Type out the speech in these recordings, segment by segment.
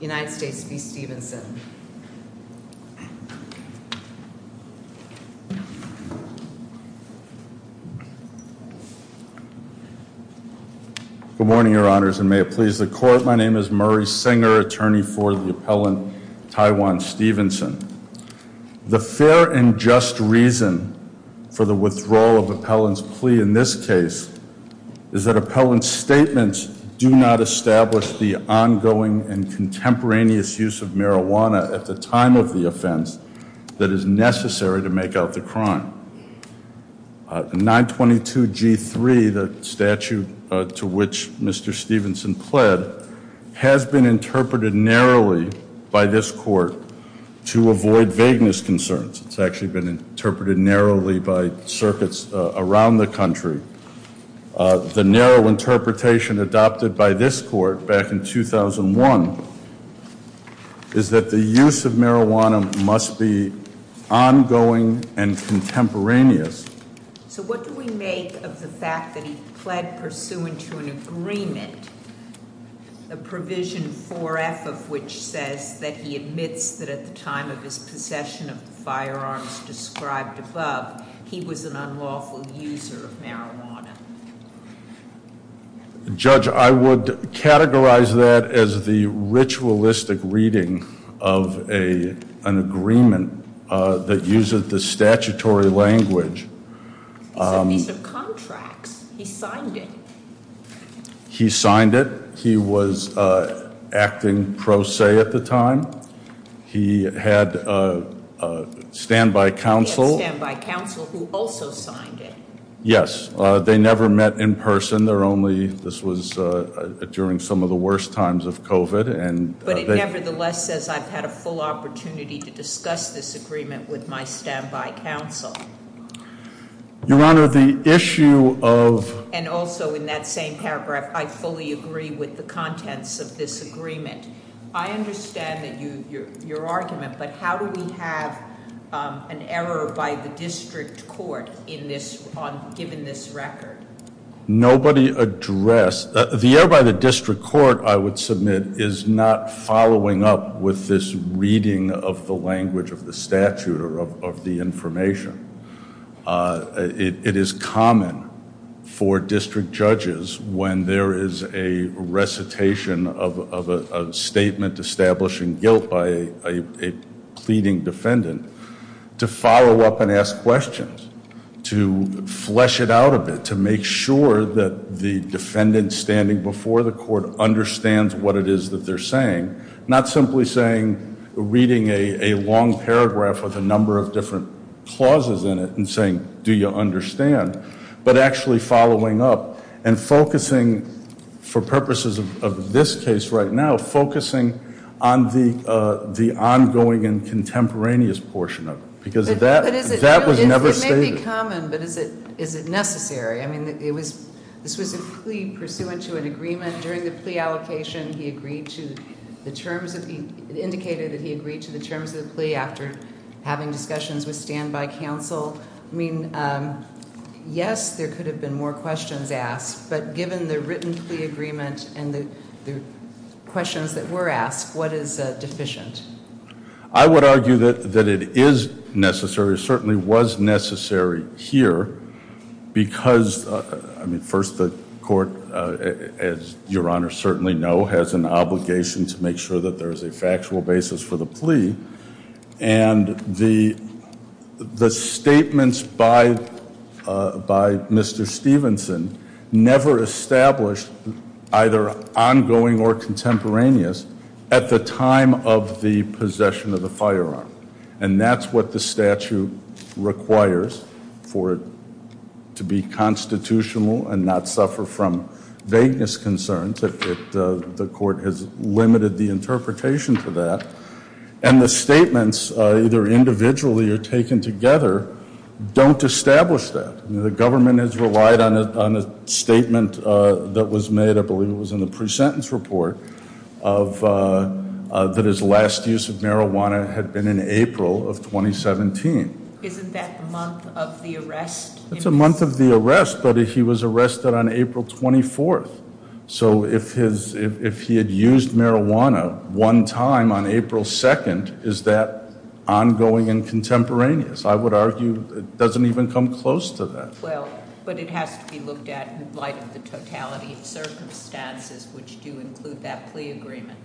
Good morning, your honors, and may it please the court. My name is Murray Singer, attorney for the appellant Tyjuan Stephenson. The fair and just reason for the withdrawal of appellant's plea in this case is that appellant's statements do not establish the ongoing and contemporaneous use of marijuana at the time of the offense that is necessary to make out the crime. 922 G3, the statute to which Mr. Stephenson pled, has been interpreted narrowly by this court to avoid vagueness concerns. It's actually been interpreted narrowly by circuits around the country. The narrow interpretation adopted by this court back in 2001 is that the use of marijuana must be ongoing and contemporaneous. So what do we make of the fact that he pled pursuant to an agreement, a provision 4F of which says that he admits that at the time of his possession of the firearms described above, he was an unlawful user of marijuana? Judge, I would categorize that as the ritualistic reading of an agreement that uses the statutory language. It's a piece of contracts. He signed it. He signed it. He was acting pro se at the time. He had standby counsel. He had standby counsel who also signed it. Yes, they never met in person. They're only, this was during some of the worst times of COVID. But it nevertheless says I've had a full opportunity to discuss this agreement with my standby counsel. Your Honor, the issue of. And also in that same paragraph, I fully agree with the contents of this agreement. I understand that your argument, but how do we have an error by the district court in this, given this record? Nobody addressed, the error by the district court, I would submit, is not following up with this reading of the language of the statute or of the information. It is common for district judges, when there is a recitation of a statement establishing guilt by a pleading defendant, to follow up and ask questions. To flesh it out a bit, to make sure that the defendant standing before the court understands what it is that they're saying. Not simply saying, reading a long paragraph with a number of different clauses in it and saying, do you understand? But actually following up and focusing, for purposes of this case right now, focusing on the ongoing and contemporaneous portion of it. Because that was never stated. It may be common, but is it necessary? I mean, this was a plea pursuant to an agreement during the plea allocation. He agreed to the terms of the, indicated that he agreed to the terms of the plea after having discussions with standby counsel. I mean, yes, there could have been more questions asked. But given the written plea agreement and the questions that were asked, what is deficient? I would argue that it is necessary, certainly was necessary here. Because, I mean, first the court, as your honor certainly know, has an obligation to make sure that there is a factual basis for the plea. And the statements by Mr. Stephenson never established either ongoing or contemporaneous at the time of the possession of the firearm. And that's what the statute requires for it to be constitutional and not suffer from vagueness concerns. The court has limited the interpretation for that. And the statements, either individually or taken together, don't establish that. The government has relied on a statement that was made, I believe it was in the pre-sentence report, that his last use of marijuana had been in April of 2017. Isn't that the month of the arrest? It's a month of the arrest, but he was arrested on April 24th. So if he had used marijuana one time on April 2nd, is that ongoing and contemporaneous? I would argue it doesn't even come close to that. Well, but it has to be looked at in light of the totality of circumstances which do include that plea agreement.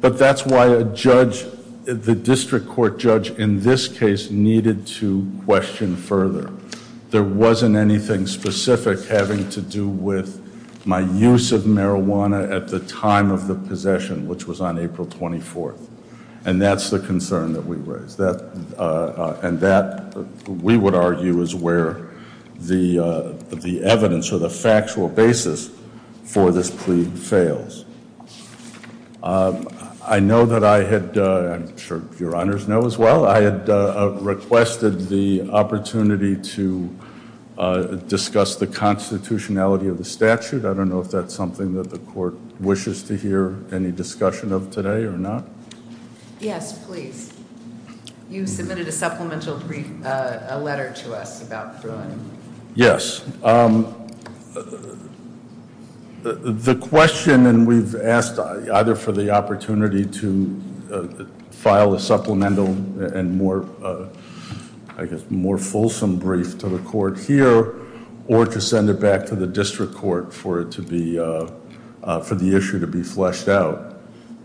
But that's why a judge, the district court judge in this case, needed to question further. There wasn't anything specific having to do with my use of marijuana at the time of the possession, which was on April 24th. And that's the concern that we raised. And that, we would argue, is where the evidence or the factual basis for this plea fails. I know that I had, I'm sure your honors know as well, I had requested the opportunity to discuss the constitutionality of the statute. I don't know if that's something that the court wishes to hear any discussion of today or not. Yes, please. You submitted a supplemental brief, a letter to us about Fruin. Yes. The question, and we've asked either for the opportunity to file a supplemental and more, I guess, more fulsome brief to the court here or to send it back to the district court for it to be, for the issue to be fleshed out.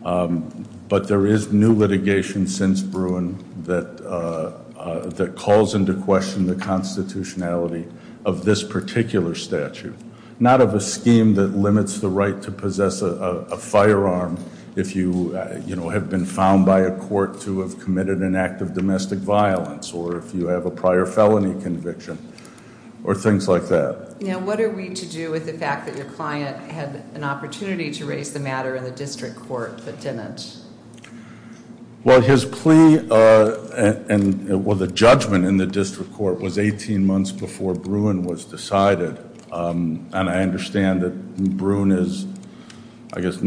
But there is new litigation since Fruin that calls into question the constitutionality of this particular statute. Not of a scheme that limits the right to possess a firearm if you have been found by a court to have committed an act of domestic violence, or if you have a prior felony conviction, or things like that. Now, what are we to do with the fact that your client had an opportunity to raise the matter in the district court, but didn't? Well, his plea and, well, the judgment in the district court was 18 months before Fruin was decided. And I understand that Fruin is, I guess,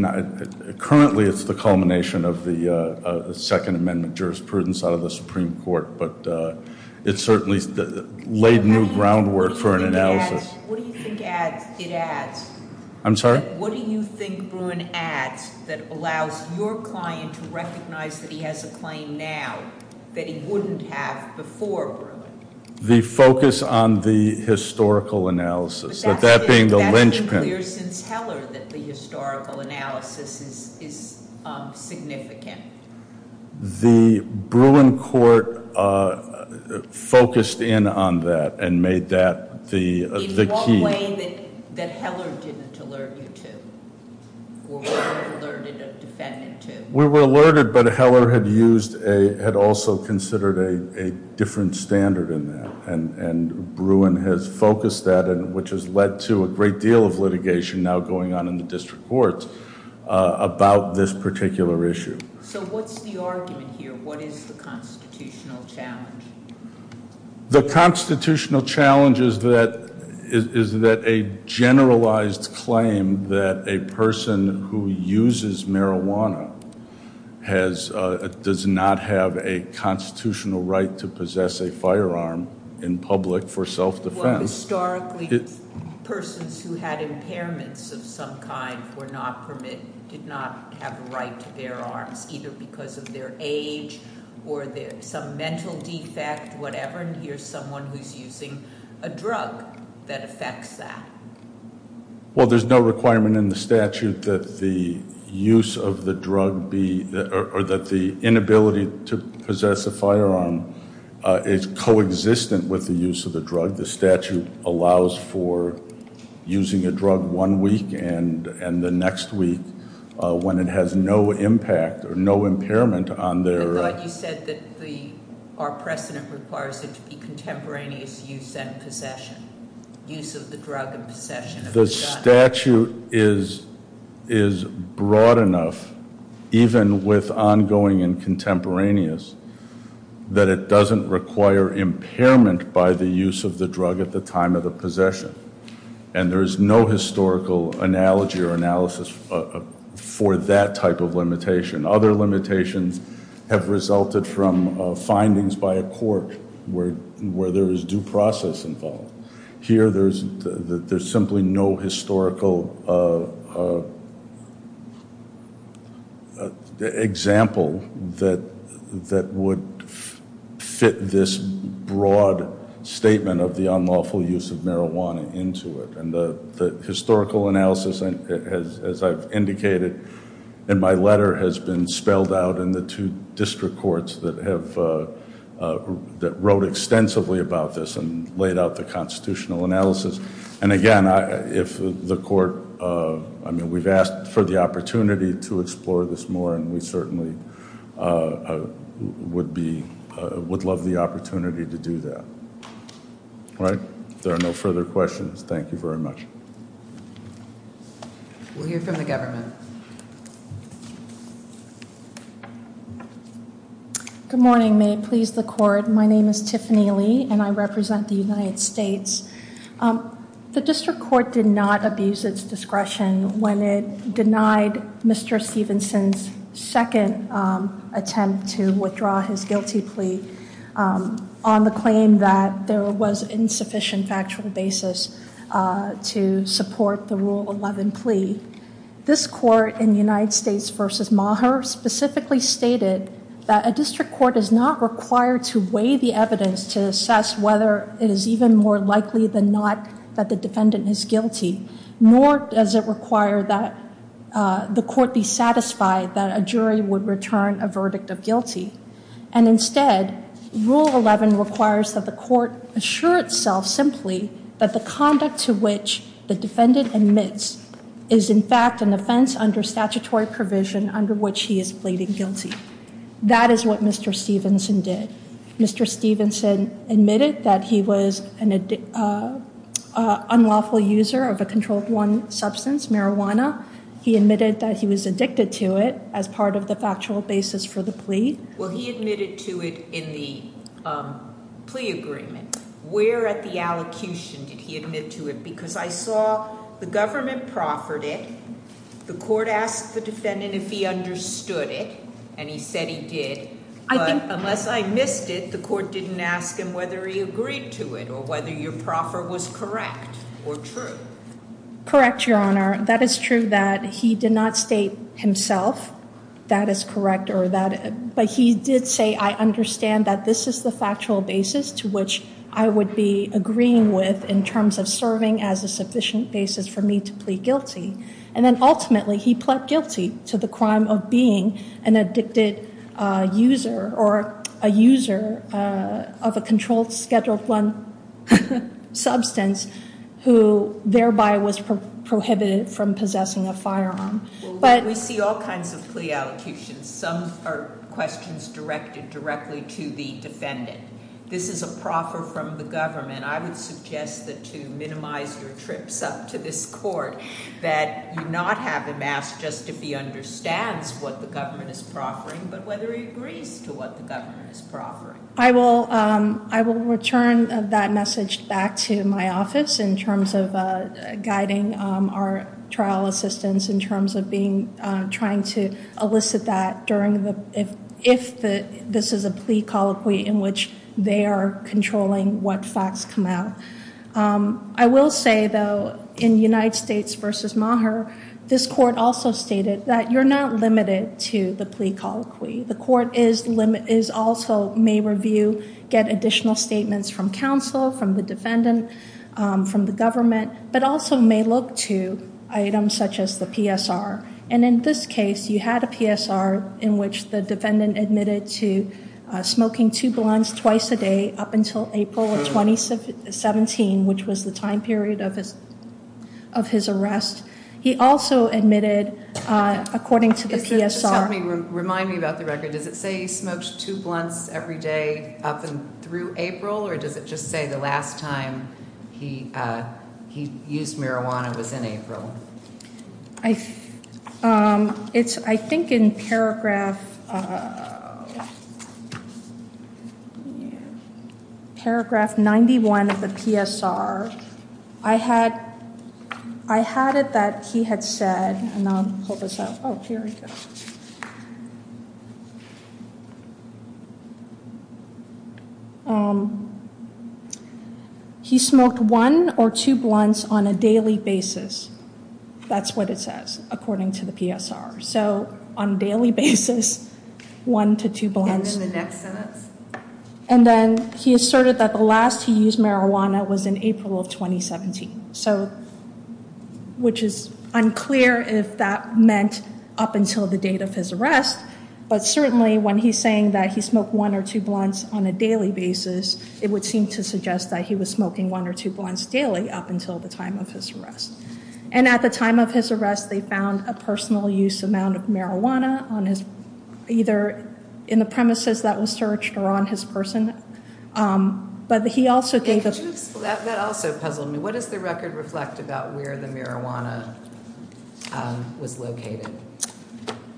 currently it's the culmination of the second amendment jurisprudence out of the Supreme Court, but it certainly laid new groundwork for an analysis. What do you think adds, it adds? I'm sorry? What do you think Bruin adds that allows your client to recognize that he has a claim now that he wouldn't have before Bruin? The focus on the historical analysis. But that's been clear since Heller that the historical analysis is significant. The Bruin court focused in on that and made that the key. In one way that Heller didn't alert you to, or weren't alerted a defendant to. We were alerted, but Heller had also considered a different standard in that. And Bruin has focused that, which has led to a great deal of litigation now going on in the district courts about this particular issue. So what's the argument here? What is the constitutional challenge? The constitutional challenge is that a generalized claim that a person who uses marijuana does not have a constitutional right to possess a firearm in public for self-defense. Historically, persons who had impairments of some kind were not permitted, did not have a right to bear arms, either because of their age or some mental defect, whatever. And here's someone who's using a drug that affects that. Well, there's no requirement in the statute that the use of the drug be, or that the inability to possess a firearm is coexistent with the use of the drug. The statute allows for using a drug one week and the next week when it has no impact or no impairment on their- I thought you said that our precedent requires it to be contemporaneous use and possession. Use of the drug and possession of the gun. The statute is broad enough, even with ongoing and contemporaneous, that it doesn't require impairment by the use of the drug at the time of the possession. And there's no historical analogy or analysis for that type of limitation. Other limitations have resulted from findings by a court where there is due process involved. Here, there's simply no historical example that would fit this broad statement of the unlawful use of marijuana into it. And the historical analysis, as I've indicated in my letter, has been spelled out in the two district courts that wrote extensively about this and laid out the constitutional analysis. And again, if the court- I mean, we've asked for the opportunity to explore this more, and we certainly would love the opportunity to do that. All right? If there are no further questions, thank you very much. We'll hear from the government. Good morning. May it please the court. My name is Tiffany Lee, and I represent the United States. The district court did not abuse its discretion when it denied Mr. Stevenson's second attempt to withdraw his guilty plea on the claim that there was insufficient factual basis to support the Rule 11 plea. This court in United States v. Maher specifically stated that a district court is not required to weigh the evidence to assess whether it is even more likely than not that the defendant is guilty, nor does it require that the court be satisfied that a jury would return a verdict of guilty. And instead, Rule 11 requires that the court assure itself simply that the conduct to which the defendant admits is in fact an offense under statutory provision under which he is pleading guilty. That is what Mr. Stevenson did. Mr. Stevenson admitted that he was an unlawful user of a controlled one substance, marijuana. He admitted that he was addicted to it as part of the factual basis for the plea. Well, he admitted to it in the plea agreement. Where at the allocution did he admit to it? Because I saw the government proffered it. The court asked the defendant if he understood it, and he said he did. But unless I missed it, the court didn't ask him whether he agreed to it or whether your proffer was correct or true. Correct, Your Honor. That is true that he did not state himself that is correct, but he did say I understand that this is the factual basis to which I would be agreeing with in terms of serving as a sufficient basis for me to plead guilty. And then ultimately, he pled guilty to the crime of being an addicted user or a user of a controlled scheduled one substance who thereby was prohibited from possessing a firearm. We see all kinds of plea allocutions. Some are questions directed directly to the defendant. This is a proffer from the government. I would suggest that to minimize your trips up to this court, that you not have him ask just if he understands what the government is proffering but whether he agrees to what the government is proffering. I will return that message back to my office in terms of guiding our trial assistants in terms of trying to elicit that if this is a plea colloquy in which they are controlling what facts come out. I will say though, in United States v. Maher, this court also stated that you're not limited to the plea colloquy. The court also may review, get additional statements from counsel, from the defendant, from the government, but also may look to items such as the PSR. And in this case, you had a PSR in which the defendant admitted to smoking two blunts twice a day up until April of 2017, which was the time period of his arrest. He also admitted, according to the PSR. Remind me about the record. Does it say he smoked two blunts every day up through April, or does it just say the last time he used marijuana was in April? I think in paragraph 91 of the PSR, I had it that he had said, and I'll pull this up. Oh, here we go. He smoked one or two blunts on a daily basis. That's what it says, according to the PSR. So on a daily basis, one to two blunts. And then the next sentence? And then he asserted that the last he used marijuana was in April of 2017, which is unclear if that meant up until the date of his arrest. But certainly when he's saying that he smoked one or two blunts on a daily basis, it would seem to suggest that he was smoking one or two blunts daily up until the time of his arrest. And at the time of his arrest, they found a personal use amount of marijuana on his, either in the premises that was searched or on his person. But he also gave us that also puzzled me. What does the record reflect about where the marijuana was located?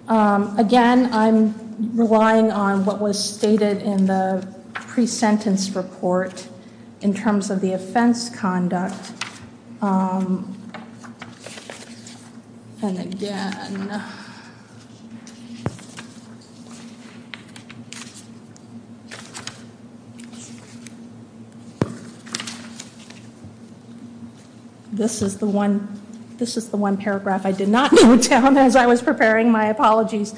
Again, I'm relying on what was stated in the pre-sentence report in terms of the offense conduct. And again. This is the one paragraph I did not note down as I was preparing my apologies.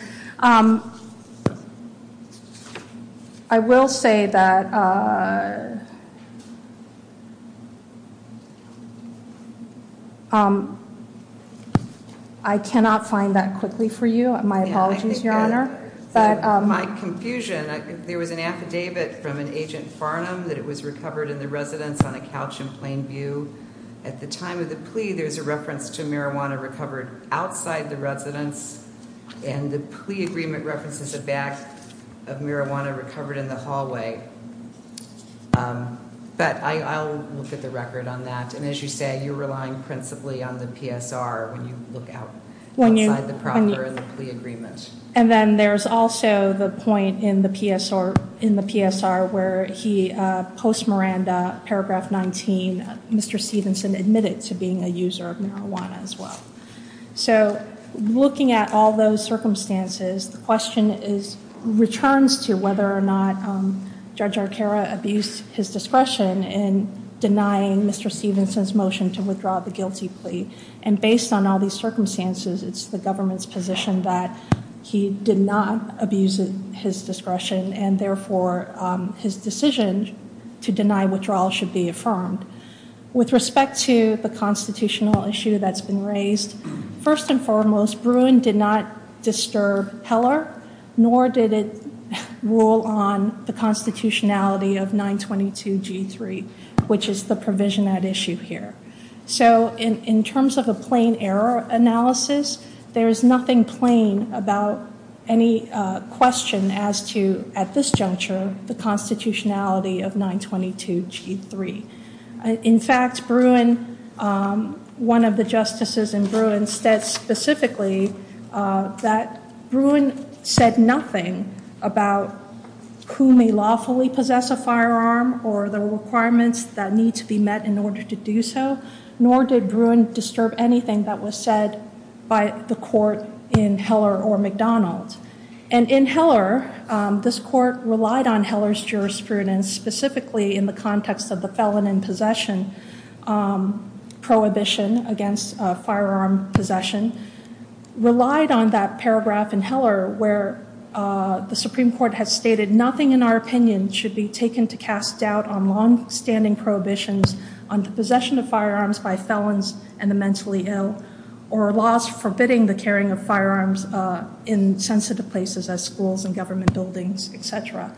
I will say that. I cannot find that quickly for you. My apologies, Your Honor. My confusion. There was an affidavit from an agent Farnham that it was recovered in the residence on a couch in Plainview. At the time of the plea, there's a reference to marijuana recovered outside the residence. And the plea agreement references the back of marijuana recovered in the hallway. But I'll look at the record on that. And as you say, you're relying principally on the PSR when you look outside the proper plea agreement. And then there's also the point in the PSR where he, post Miranda, paragraph 19, Mr. Stevenson admitted to being a user of marijuana as well. So looking at all those circumstances, the question returns to whether or not Judge Arcaro abused his discretion in denying Mr. Stevenson's motion to withdraw the guilty plea. And based on all these circumstances, it's the government's position that he did not abuse his discretion. And therefore, his decision to deny withdrawal should be affirmed. With respect to the constitutional issue that's been raised, first and foremost, Bruin did not disturb Heller, nor did it rule on the constitutionality of 922 G3, which is the provision at issue here. So in terms of a plain error analysis, there is nothing plain about any question as to, at this juncture, the constitutionality of 922 G3. In fact, Bruin, one of the justices in Bruin, said specifically that Bruin said nothing about who may lawfully possess a firearm or the requirements that need to be met in order to do so, nor did Bruin disturb anything that was said by the court in Heller or McDonald's. And in Heller, this court relied on Heller's jurisprudence, specifically in the context of the felon in possession prohibition against firearm possession, relied on that paragraph in Heller where the Supreme Court has stated, nothing in our opinion should be taken to cast doubt on longstanding prohibitions on the possession of firearms by felons and the mentally ill or laws forbidding the carrying of firearms in sensitive places, as schools and government buildings, et cetera.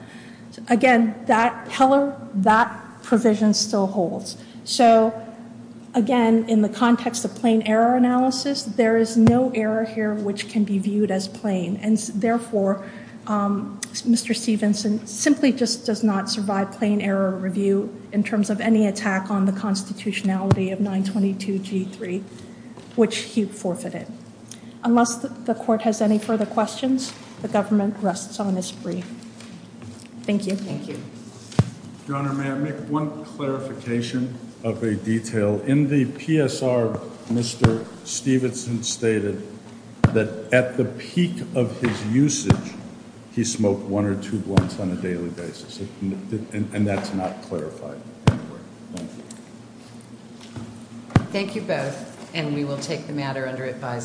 Again, Heller, that provision still holds. So, again, in the context of plain error analysis, there is no error here which can be viewed as plain, and therefore Mr. Stevenson simply just does not survive plain error review in terms of any attack on the constitutionality of 922 G3, which he forfeited. Unless the court has any further questions, the government rests on its brief. Thank you. Thank you. Your Honor, may I make one clarification of a detail? In the PSR, Mr. Stevenson stated that at the peak of his usage, he smoked one or two blunts on a daily basis, and that's not clarified anywhere. Thank you. Thank you both, and we will take the matter under advisory.